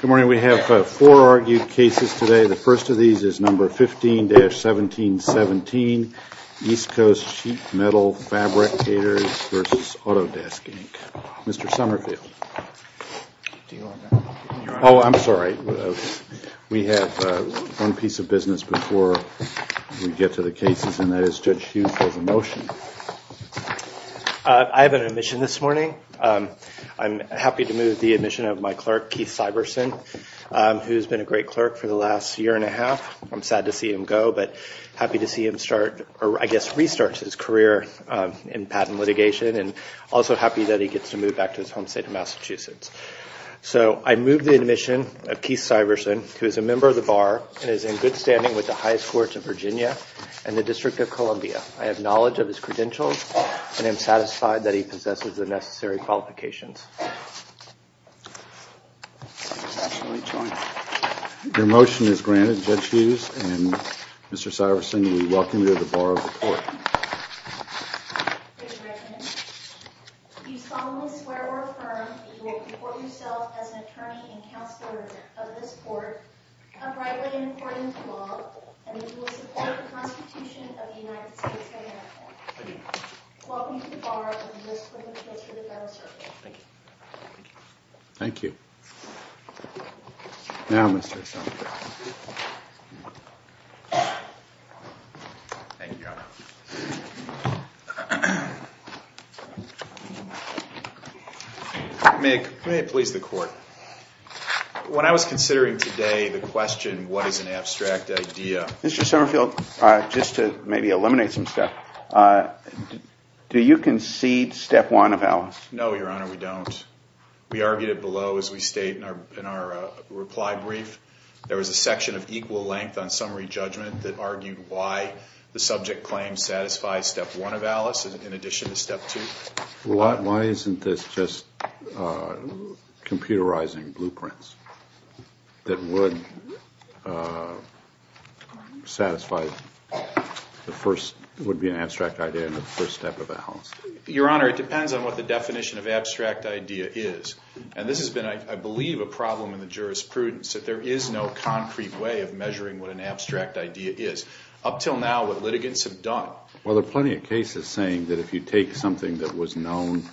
Good morning. We have four argued cases today. The first of these is number 15-1717, East Coast Sheet Metal Fabric Caterers v. Autodesk, Inc. Mr. Summerfield. Oh, I'm sorry. We have one piece of business before we get to the cases, and that is Judge Hughes has a motion. I have an admission this morning. I'm happy to move the admission of my clerk, Keith Syverson, who's been a great clerk for the last year and a half. I'm sad to see him go, but happy to see him restart his career in patent litigation and also happy that he gets to move back to his home state of Massachusetts. So I move the admission of Keith Syverson, who is a member of the Bar and is in good standing with the highest courts of Virginia and the District of Columbia. I have knowledge of his credentials, and I'm satisfied that he possesses the necessary qualifications. Your motion is granted, Judge Hughes, and Mr. Syverson will be welcomed into the Bar of the Court. Judge Redmond, you solemnly swear or affirm that you will comport yourself as an attorney and counselor of this court, uprightly and according to law, and that you will support the Constitution of the United States of America. Welcome to the Bar of the U.S. Court of Appeals for the Federal Circuit. Thank you. Thank you. Now, Mr. Summerfield. Thank you, Your Honor. May it please the Court. When I was considering today the question, what is an abstract idea? Mr. Summerfield, just to maybe eliminate some stuff, do you concede step one of Alice? No, Your Honor, we don't. We argued it below as we state in our reply brief. There was a section of equal length on summary judgment that argued why the subject claim satisfies step one of Alice in addition to step two. Why isn't this just computerizing blueprints that would satisfy the first, would be an abstract idea in the first step of Alice? Your Honor, it depends on what the definition of abstract idea is. And this has been, I believe, a problem in the jurisprudence, that there is no concrete way of measuring what an abstract idea is. Up till now, what litigants have done. Well, there are plenty of cases saying that if you take something that was known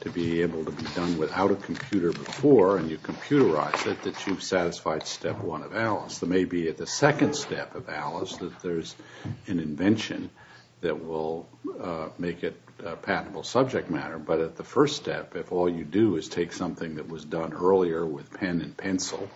to be able to be done without a computer before and you computerize it, that you've satisfied step one of Alice. There may be at the second step of Alice that there's an invention that will make it a patentable subject matter. But at the first step, if all you do is take something that was done earlier with pen and pencil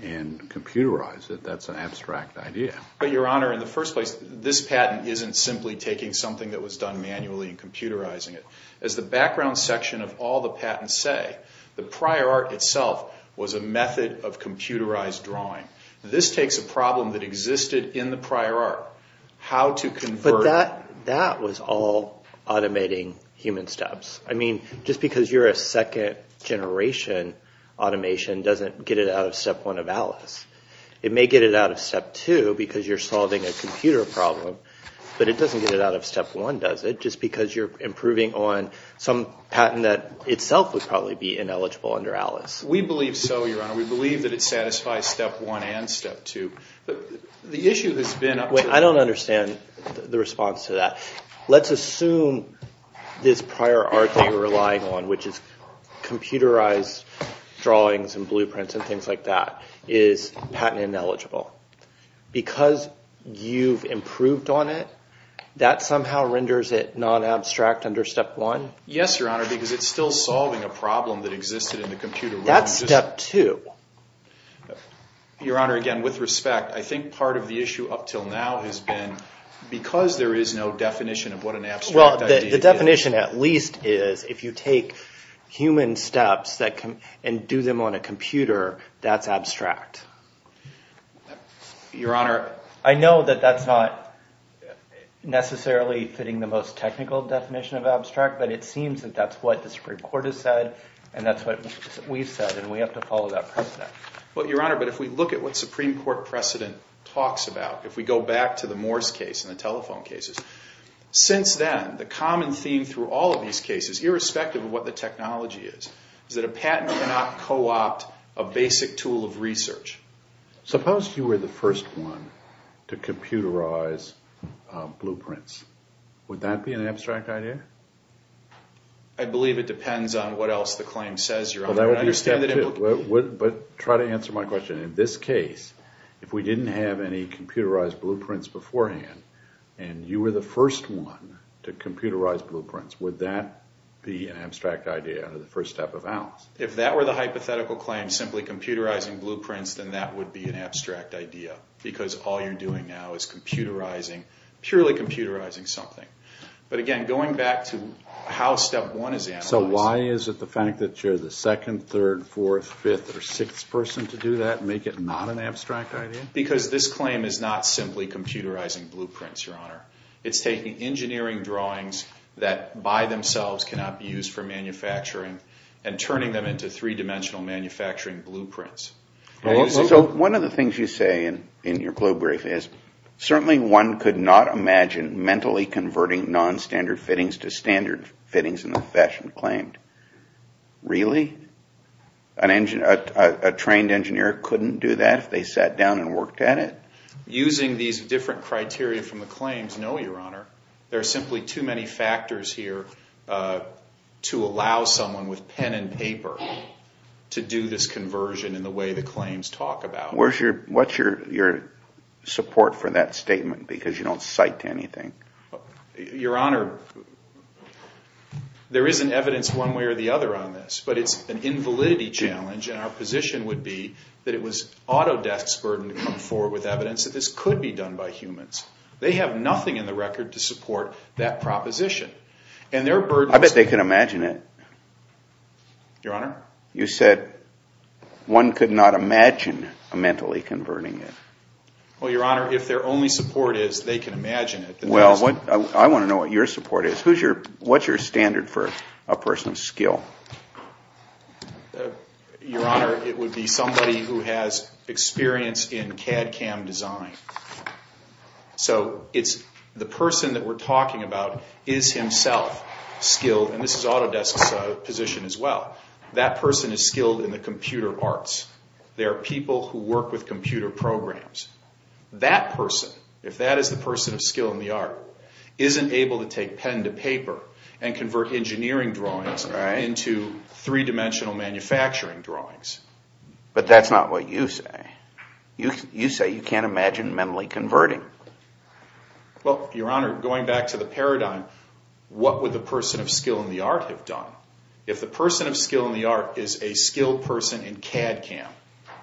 and computerize it, that's an abstract idea. But, Your Honor, in the first place, this patent isn't simply taking something that was done manually and computerizing it. As the background section of all the patents say, the prior art itself was a method of computerized drawing. This takes a problem that existed in the prior art, how to convert. That was all automating human steps. I mean, just because you're a second generation automation doesn't get it out of step one of Alice. It may get it out of step two because you're solving a computer problem, but it doesn't get it out of step one, does it? Just because you're improving on some patent that itself would probably be ineligible under Alice. We believe so, Your Honor. We believe that it satisfies step one and step two. I don't understand the response to that. Let's assume this prior art that you're relying on, which is computerized drawings and blueprints and things like that, is patent ineligible. Because you've improved on it, that somehow renders it non-abstract under step one? Yes, Your Honor, because it's still solving a problem that existed in the computer world. That's step two. Your Honor, again, with respect, I think part of the issue up until now has been because there is no definition of what an abstract idea is. Well, the definition at least is if you take human steps and do them on a computer, that's abstract. Your Honor, I know that that's not necessarily fitting the most technical definition of abstract, but it seems that that's what the Supreme Court has said, and that's what we've said, and we have to follow that precedent. Well, Your Honor, but if we look at what Supreme Court precedent talks about, if we go back to the Morse case and the telephone cases, since then, the common theme through all of these cases, irrespective of what the technology is, is that a patent cannot co-opt a basic tool of research. Suppose you were the first one to computerize blueprints. Would that be an abstract idea? I believe it depends on what else the claim says, Your Honor. But try to answer my question. In this case, if we didn't have any computerized blueprints beforehand, and you were the first one to computerize blueprints, would that be an abstract idea under the first step of Alice? If that were the hypothetical claim, simply computerizing blueprints, then that would be an abstract idea, because all you're doing now is purely computerizing something. But again, going back to how step one is analyzed. So why is it the fact that you're the second, third, fourth, fifth, or sixth person to do that make it not an abstract idea? Because this claim is not simply computerizing blueprints, Your Honor. It's taking engineering drawings that by themselves cannot be used for manufacturing and turning them into three-dimensional manufacturing blueprints. So one of the things you say in your probe brief is, certainly one could not imagine mentally converting nonstandard fittings to standard fittings in the fashion claimed. Really? A trained engineer couldn't do that if they sat down and worked at it? Using these different criteria from the claims, no, Your Honor. There are simply too many factors here to allow someone with pen and paper to do this conversion in the way the claims talk about. What's your support for that statement, because you don't cite anything? Your Honor, there isn't evidence one way or the other on this, but it's an invalidity challenge, and our position would be that it was Autodesk's burden to come forward with evidence that this could be done by humans. They have nothing in the record to support that proposition. I bet they can imagine it. Your Honor? You said one could not imagine mentally converting it. Well, Your Honor, if their only support is they can imagine it. Well, I want to know what your support is. What's your standard for a person's skill? Your Honor, it would be somebody who has experience in CAD CAM design. So the person that we're talking about is himself skilled, and this is Autodesk's position as well. That person is skilled in the computer arts. They are people who work with computer programs. That person, if that is the person of skill in the art, isn't able to take pen to paper and convert engineering drawings into three-dimensional manufacturing drawings. But that's not what you say. You say you can't imagine mentally converting. Well, Your Honor, going back to the paradigm, what would the person of skill in the art have done? If the person of skill in the art is a skilled person in CAD CAM,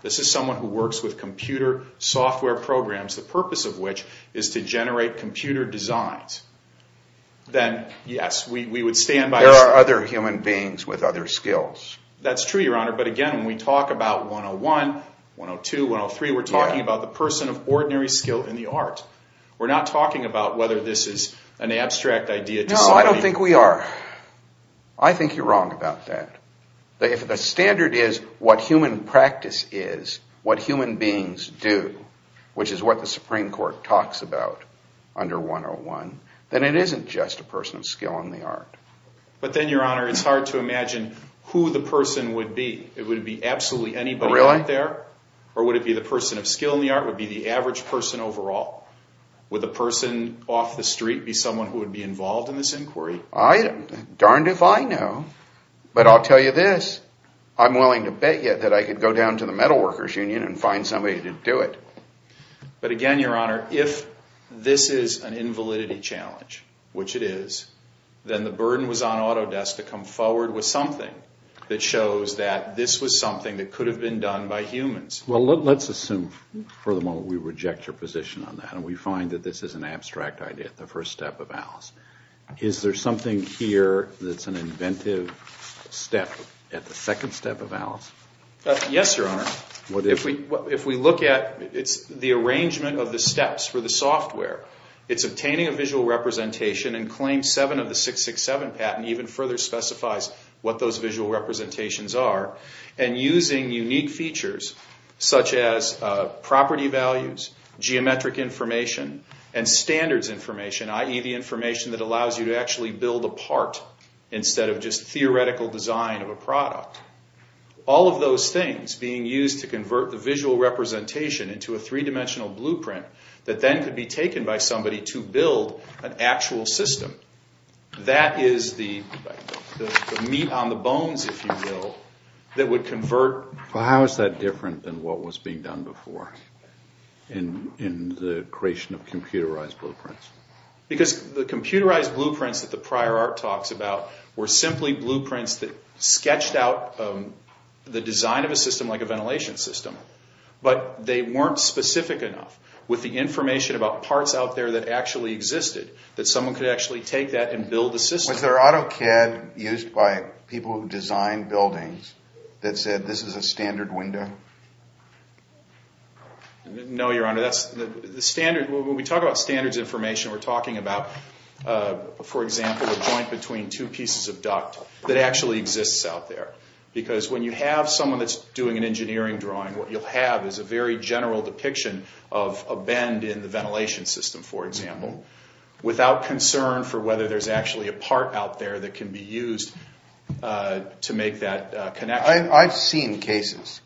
this is someone who works with computer software programs, the purpose of which is to generate computer designs, then yes, we would stand by that. There are other human beings with other skills. That's true, Your Honor, but again, when we talk about 101, 102, 103, we're talking about the person of ordinary skill in the art. We're not talking about whether this is an abstract idea. No, I don't think we are. I think you're wrong about that. If the standard is what human practice is, what human beings do, which is what the Supreme Court talks about under 101, then it isn't just a person of skill in the art. But then, Your Honor, it's hard to imagine who the person would be. Would it be absolutely anybody out there, or would it be the person of skill in the art, would it be the average person overall? Would the person off the street be someone who would be involved in this inquiry? Darned if I know, but I'll tell you this. I'm willing to bet you that I could go down to the metal workers' union and find somebody to do it. But again, Your Honor, if this is an invalidity challenge, which it is, then the burden was on Autodesk to come forward with something that shows that this was something that could have been done by humans. Well, let's assume for the moment we reject your position on that, and we find that this is an abstract idea, the first step of Alice. Is there something here that's an inventive step at the second step of Alice? Yes, Your Honor. If we look at the arrangement of the steps for the software, it's obtaining a visual representation and Claim 7 of the 667 patent even further specifies what those visual representations are, and using unique features such as property values, geometric information, and standards information, i.e., the information that allows you to actually build a part instead of just theoretical design of a product. All of those things being used to convert the visual representation into a three-dimensional blueprint that then could be taken by somebody to build an actual system. That is the meat on the bones, if you will, that would convert... in the creation of computerized blueprints. Because the computerized blueprints that the prior art talks about were simply blueprints that sketched out the design of a system like a ventilation system, but they weren't specific enough with the information about parts out there that actually existed that someone could actually take that and build a system. Was there AutoCAD used by people who designed buildings that said this is a standard window? No, Your Honor. When we talk about standards information, we're talking about, for example, a joint between two pieces of duct that actually exists out there. Because when you have someone that's doing an engineering drawing, what you'll have is a very general depiction of a bend in the ventilation system, for example, without concern for whether there's actually a part out there that can be used to make that connection. I've seen cases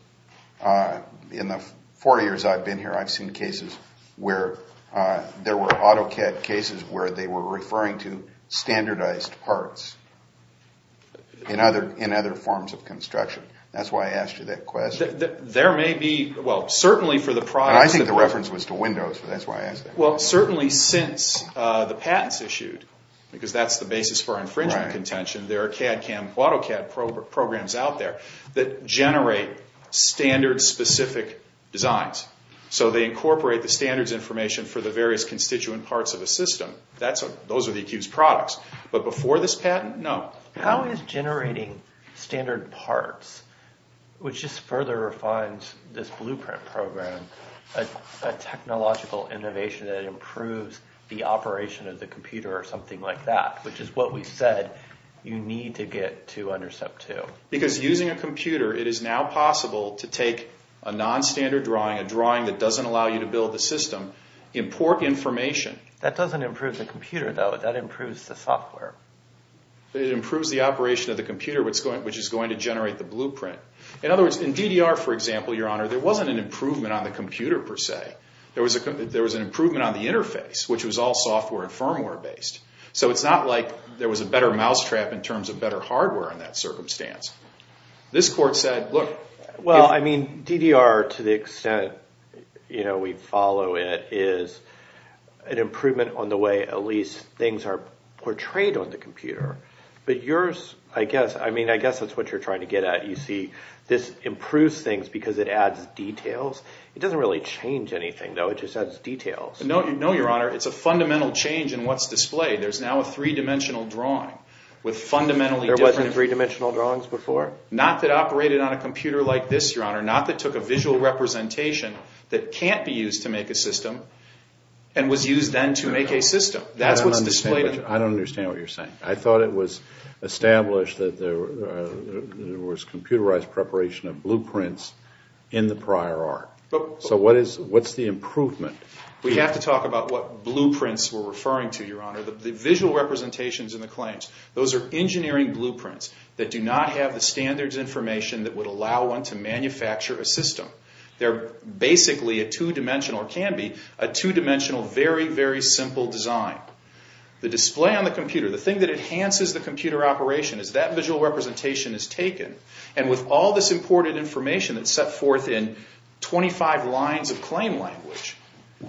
in the 40 years I've been here, I've seen cases where there were AutoCAD cases where they were referring to standardized parts in other forms of construction. That's why I asked you that question. There may be, well, certainly for the products... I think the reference was to windows, that's why I asked that. Well, certainly since the patents issued, because that's the basis for infringement contention, there are CAD, CAM, AutoCAD programs out there that generate standard-specific designs. So they incorporate the standards information for the various constituent parts of a system. Those are the accused products. But before this patent, no. How is generating standard parts, which just further refines this blueprint program, a technological innovation that improves the operation of the computer or something like that, which is what we said you need to get to UNDERSEP 2? Because using a computer, it is now possible to take a non-standard drawing, a drawing that doesn't allow you to build the system, import information... That doesn't improve the computer, though. That improves the software. It improves the operation of the computer, which is going to generate the blueprint. In other words, in DDR, for example, Your Honor, there wasn't an improvement on the computer, per se. There was an improvement on the interface, which was all software and firmware-based. So it's not like there was a better mousetrap in terms of better hardware in that circumstance. This court said, look... Well, I mean, DDR, to the extent we follow it, is an improvement on the way, at least, things are portrayed on the computer. But yours, I guess... I mean, I guess that's what you're trying to get at. You see, this improves things because it adds details. It doesn't really change anything, though. It just adds details. No, Your Honor. It's a fundamental change in what's displayed. There's now a three-dimensional drawing with fundamentally different... There wasn't three-dimensional drawings before? Not that operated on a computer like this, Your Honor. Not that took a visual representation that can't be used to make a system and was used then to make a system. That's what's displayed... I don't understand what you're saying. I thought it was established that there was computerized preparation of blueprints in the prior art. So what's the improvement? We have to talk about what blueprints we're referring to, Your Honor. The visual representations in the claims, those are engineering blueprints that do not have the standards information that would allow one to manufacture a system. They're basically a two-dimensional, or can be a two-dimensional, very, very simple design. The display on the computer, the thing that enhances the computer operation is that visual representation is taken, and with all this important information that's set forth in 25 lines of claim language,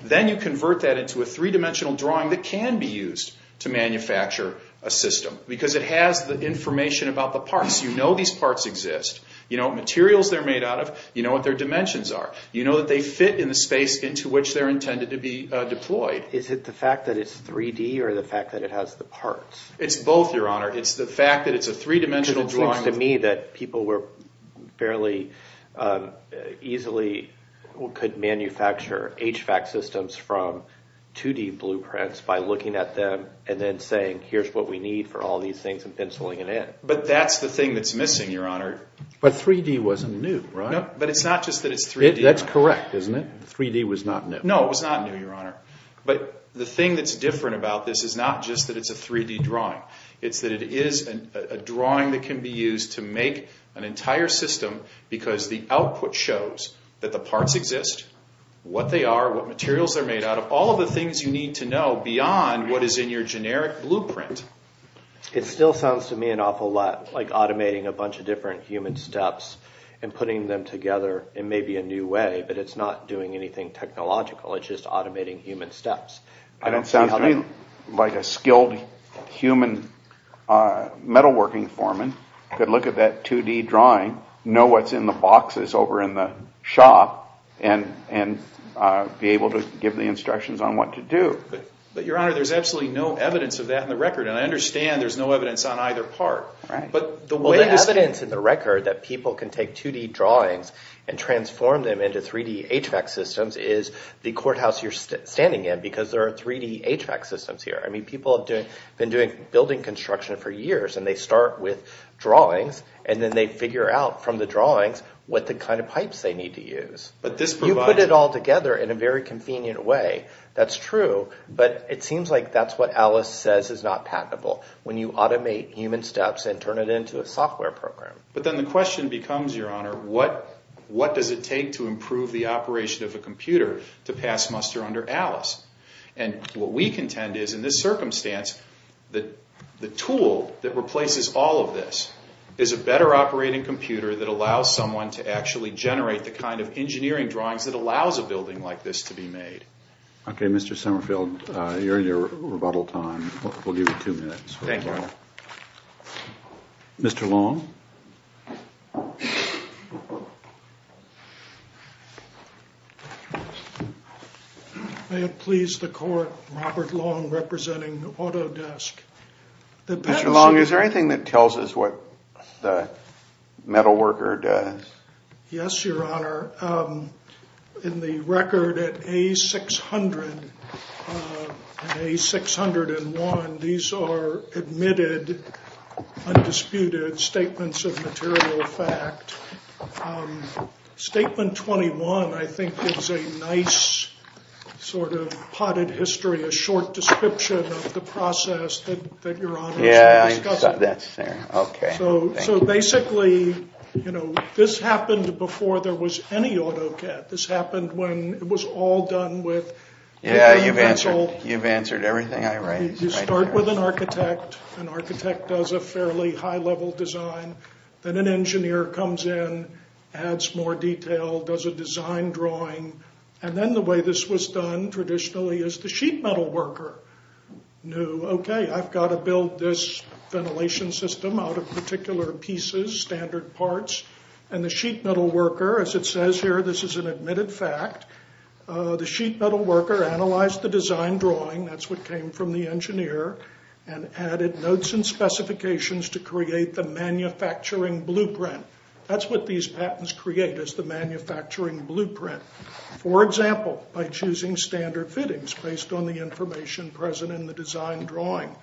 then you convert that into a three-dimensional drawing that can be used to manufacture a system because it has the information about the parts. You know these parts exist. You know what materials they're made out of. You know what their dimensions are. You know that they fit in the space into which they're intended to be deployed. or the fact that it has the parts? It's both, Your Honor. It's the fact that it's a three-dimensional drawing. It seems to me that people were fairly easily, could manufacture HVAC systems from 2D blueprints by looking at them and then saying, here's what we need for all these things and penciling it in. But that's the thing that's missing, Your Honor. But 3D wasn't new, right? No, but it's not just that it's 3D. That's correct, isn't it? 3D was not new. No, it was not new, Your Honor. But the thing that's different about this is not just that it's a 3D drawing. It's that it is a drawing that can be used to make an entire system because the output shows that the parts exist, what they are, what materials they're made out of, all of the things you need to know beyond what is in your generic blueprint. It still sounds to me an awful lot like automating a bunch of different human steps and putting them together in maybe a new way, but it's not doing anything technological. It's just automating human steps. It sounds to me like a skilled human metalworking foreman could look at that 2D drawing, know what's in the boxes over in the shop, and be able to give the instructions on what to do. But, Your Honor, there's absolutely no evidence of that in the record, and I understand there's no evidence on either part. Right. Well, the evidence in the record that people can take 2D drawings and transform them into 3D HVAC systems is the courthouse you're standing in because there are 3D HVAC systems here. I mean, people have been doing building construction for years, and they start with drawings, and then they figure out from the drawings what the kind of pipes they need to use. But this provides... You put it all together in a very convenient way. That's true, but it seems like that's what Alice says is not patentable, when you automate human steps and turn it into a software program. But then the question becomes, Your Honor, what does it take to improve the operation of a computer to pass muster under Alice? And what we contend is, in this circumstance, the tool that replaces all of this is a better operating computer that allows someone to actually generate the kind of engineering drawings that allows a building like this to be made. Okay, Mr. Summerfield, you're in your rebuttal time. We'll give you 2 minutes. Thank you, Your Honor. Mr. Long? May it please the Court, Robert Long representing Autodesk. Mr. Long, is there anything that tells us what the metalworker does? Yes, Your Honor. In the record at A600 and A601, these are admitted, undisputed statements of material fact. Statement 21, I think, is a nice sort of potted history, a short description of the process that Your Honor should discuss. Yeah, that's fair. Okay. So basically, you know, this happened before there was any AutoCAD. This happened when it was all done with... Yeah, you've answered everything I raised. You start with an architect. An architect does a fairly high-level design. Then an engineer comes in, adds more detail, does a design drawing. And then the way this was done traditionally is the sheet metalworker knew, okay, I've got to build this ventilation system out of particular pieces, standard parts. And the sheet metalworker, as it says here, this is an admitted fact, the sheet metalworker analyzed the design drawing, that's what came from the engineer, and added notes and specifications to create the manufacturing blueprint. That's what these patents create, is the manufacturing blueprint. For example, by choosing standard fittings based on the information present in the design drawing,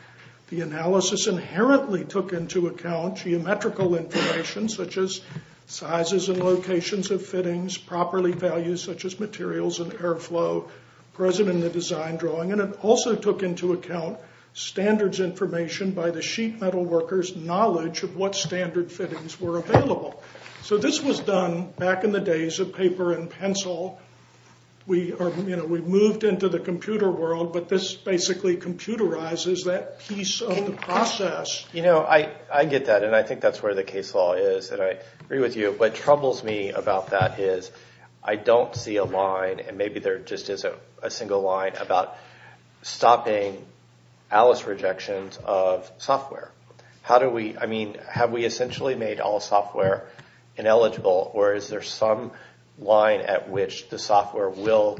the analysis inherently took into account geometrical information, such as sizes and locations of fittings, property values, such as materials and airflow, present in the design drawing. And it also took into account standards information by the sheet metalworker's knowledge of what standard fittings were available. So this was done back in the days of paper and pencil. We moved into the computer world, but this basically computerizes that piece of the process. You know, I get that, and I think that's where the case law is, and I agree with you. What troubles me about that is, I don't see a line, and maybe there just isn't a single line, about stopping Alice rejections of software. How do we, I mean, have we essentially made all software ineligible, or is there some line at which the software will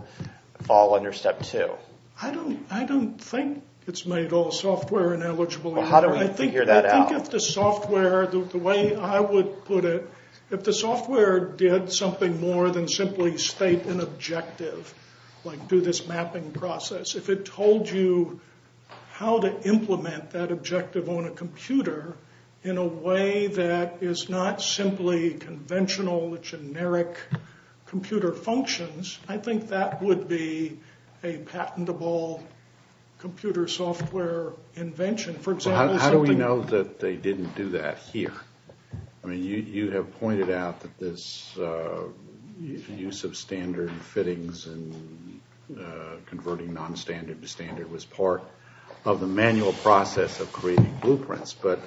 fall under step two? I don't think it's made all software ineligible. Well, how do we figure that out? I think if the software, the way I would put it, if the software did something more than simply state an objective, like do this mapping process, if it told you how to implement that objective on a computer in a way that is not simply conventional, generic computer functions, I think that would be a patentable computer software invention. For example, something... How do we know that they didn't do that here? I mean, you have pointed out that this use of standard fittings and converting non-standard to standard was part of the manual process of creating blueprints, but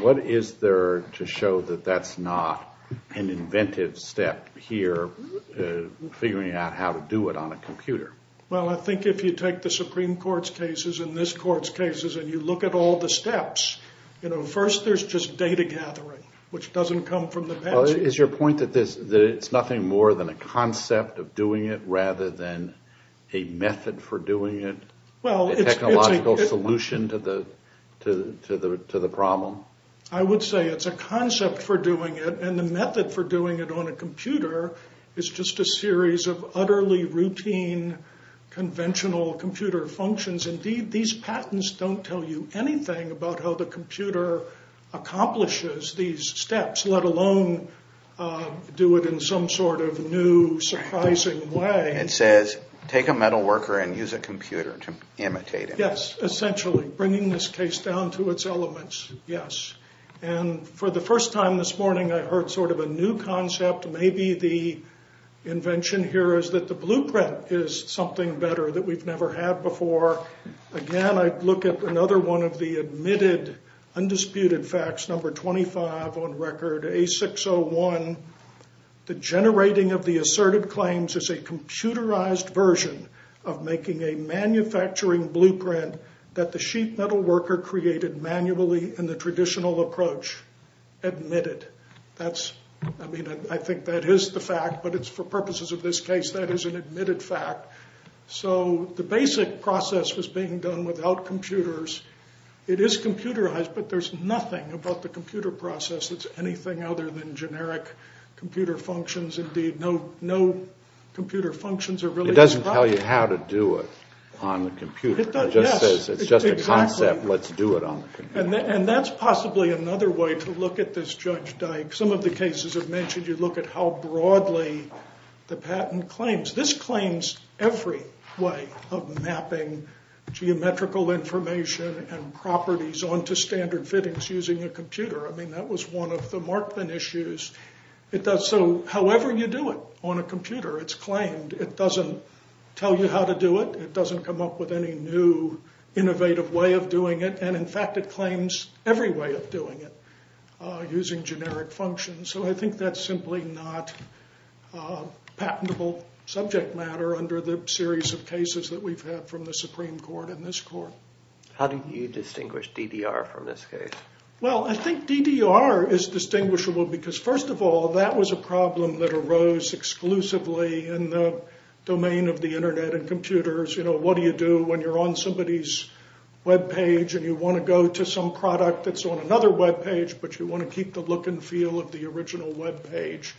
what is there to show that that's not an inventive step here, figuring out how to do it on a computer? Well, I think if you take the Supreme Court's cases and this Court's cases, and you look at all the steps, you know, first there's just data gathering, which doesn't come from the patent. Is your point that it's nothing more than a concept of doing it rather than a method for doing it, a technological solution to the problem? I would say it's a concept for doing it, and the method for doing it on a computer is just a series of utterly routine, conventional computer functions. Indeed, these patents don't tell you anything about how the computer accomplishes these steps, let alone do it in some sort of new, surprising way. It says, take a metal worker and use a computer to imitate him. Yes, essentially, bringing this case down to its elements, yes. And for the first time this morning, I heard sort of a new concept. Maybe the invention here is that the blueprint is something better that we've never had before. Again, I look at another one of the admitted, undisputed facts, number 25 on record, A601. The generating of the asserted claims is a computerized version of making a manufacturing blueprint that the sheet metal worker created manually in the traditional approach. Admitted. That's, I mean, I think that is the fact, but it's for purposes of this case, that is an admitted fact. So the basic process was being done without computers. It is computerized, but there's nothing about the computer process that's anything other than generic computer functions. Indeed, no computer functions are really described. It doesn't tell you how to do it on the computer. It just says it's just a concept. Let's do it on the computer. And that's possibly another way to look at this, Judge Dyke. Some of the cases I've mentioned, you look at how broadly the patent claims. This claims every way of mapping geometrical information and properties onto standard fittings using a computer. I mean, that was one of the Markman issues. So however you do it on a computer, it's claimed. It doesn't tell you how to do it. It doesn't come up with any new innovative way of doing it. And, in fact, it claims every way of doing it using generic functions. So I think that's simply not patentable subject matter under the series of cases that we've had from the Supreme Court and this court. How do you distinguish DDR from this case? Well, I think DDR is distinguishable because, first of all, that was a problem that arose exclusively in the domain of the Internet and computers. You know, what do you do when you're on somebody's webpage and you want to go to some product that's on another webpage, but you want to keep the look and feel of the original webpage?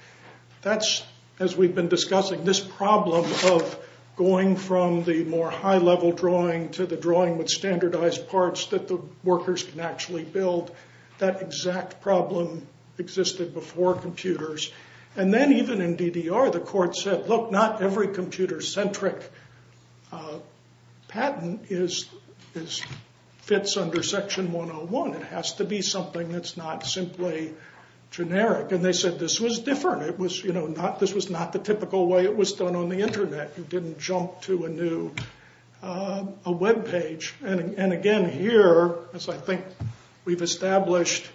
That's, as we've been discussing, this problem of going from the more high-level drawing to the drawing with standardized parts that the workers can actually build. That exact problem existed before computers. And then even in DDR, the court said, look, not every computer-centric patent fits under Section 101. It has to be something that's not simply generic. And they said this was different. This was not the typical way it was done on the Internet. You didn't jump to a new webpage. And, again, here, as I think we've established,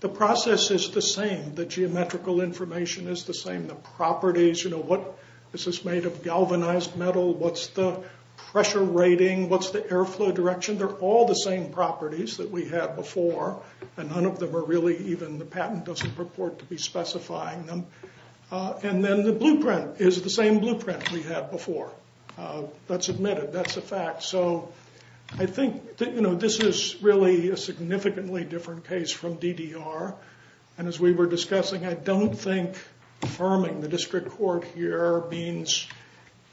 the process is the same. The geometrical information is the same. The properties, you know, this is made of galvanized metal. What's the pressure rating? What's the airflow direction? They're all the same properties that we had before, and none of them are really even the patent doesn't purport to be specifying them. And then the blueprint is the same blueprint we had before. That's admitted. That's a fact. So I think, you know, this is really a significantly different case from DDR. And as we were discussing, I don't think affirming the district court here means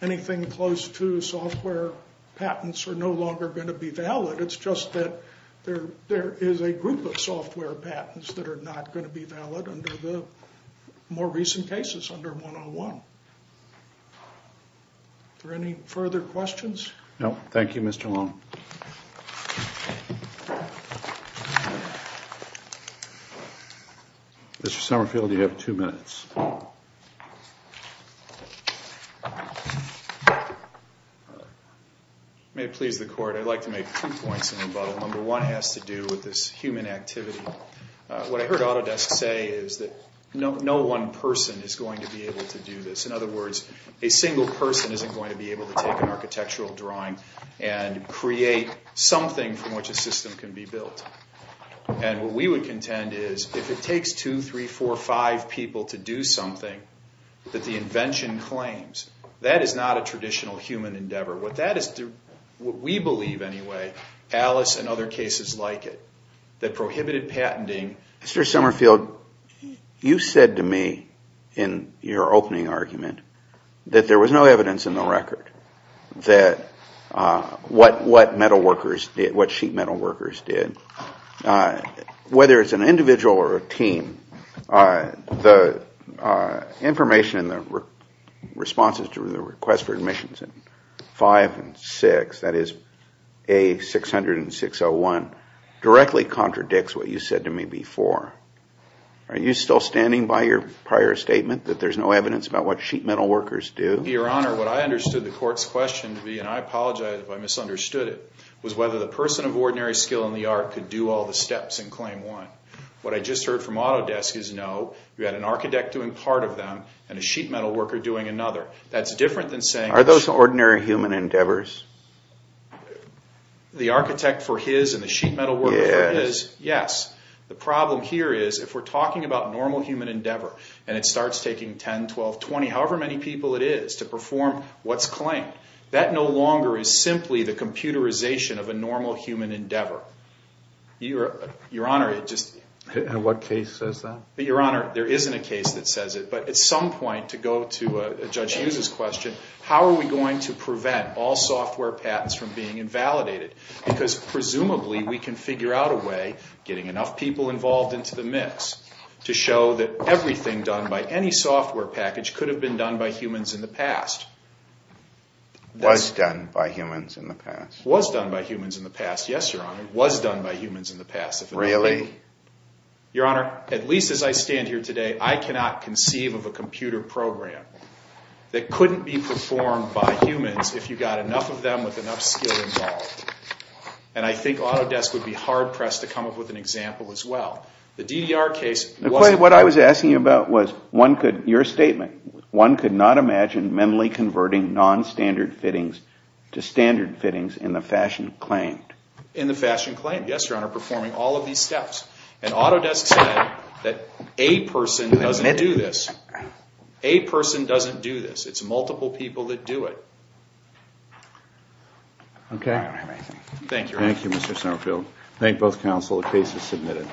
anything close to software patents are no longer going to be valid. It's just that there is a group of software patents that are not going to be valid under the more recent cases under 101. Are there any further questions? No. Thank you, Mr. Long. Mr. Summerfield, you have two minutes. May it please the Court, I'd like to make two points in rebuttal. Number one has to do with this human activity. What I heard Autodesk say is that no one person is going to be able to do this. In other words, a single person isn't going to be able to take an architectural drawing and create something from which a system can be built. And what we would contend is if it takes two, three, four, five people to do something that the invention claims, that is not a traditional human endeavor. What we believe anyway, Alice and other cases like it, that prohibited patenting. Mr. Summerfield, you said to me in your opening argument that there was no evidence in the record that what sheet metal workers did. Whether it's an individual or a team, the information in the responses to the request for admissions in five and six, that is A600 and 601, directly contradicts what you said to me before. Are you still standing by your prior statement that there's no evidence about what sheet metal workers do? Your Honor, what I understood the court's question to be, and I apologize if I misunderstood it, was whether the person of ordinary skill in the art could do all the steps in claim one. What I just heard from Autodesk is no, you had an architect doing part of them and a sheet metal worker doing another. That's different than saying... Are those ordinary human endeavors? The architect for his and the sheet metal worker for his, yes. The problem here is if we're talking about normal human endeavor, and it starts taking 10, 12, 20, however many people it is to perform what's claimed, that no longer is simply the computerization of a normal human endeavor. Your Honor, it just... And what case says that? Your Honor, there isn't a case that says it. But at some point, to go to Judge Hughes' question, how are we going to prevent all software patents from being invalidated? Because presumably we can figure out a way, getting enough people involved into the mix, to show that everything done by any software package could have been done by humans in the past. Was done by humans in the past. Was done by humans in the past, yes, Your Honor. Was done by humans in the past. Really? Your Honor, at least as I stand here today, I cannot conceive of a computer program that couldn't be performed by humans if you got enough of them with enough skill involved. And I think Autodesk would be hard-pressed to come up with an example as well. The DDR case wasn't... What I was asking you about was one could... Your statement, one could not imagine mentally converting non-standard fittings to standard fittings in the fashion claimed. In the fashion claimed, yes, Your Honor, performing all of these steps. And Autodesk said that a person doesn't do this. A person doesn't do this. It's multiple people that do it. Okay. Thank you, Your Honor. Thank you, Mr. Summerfield. Thank both counsel. The case is submitted.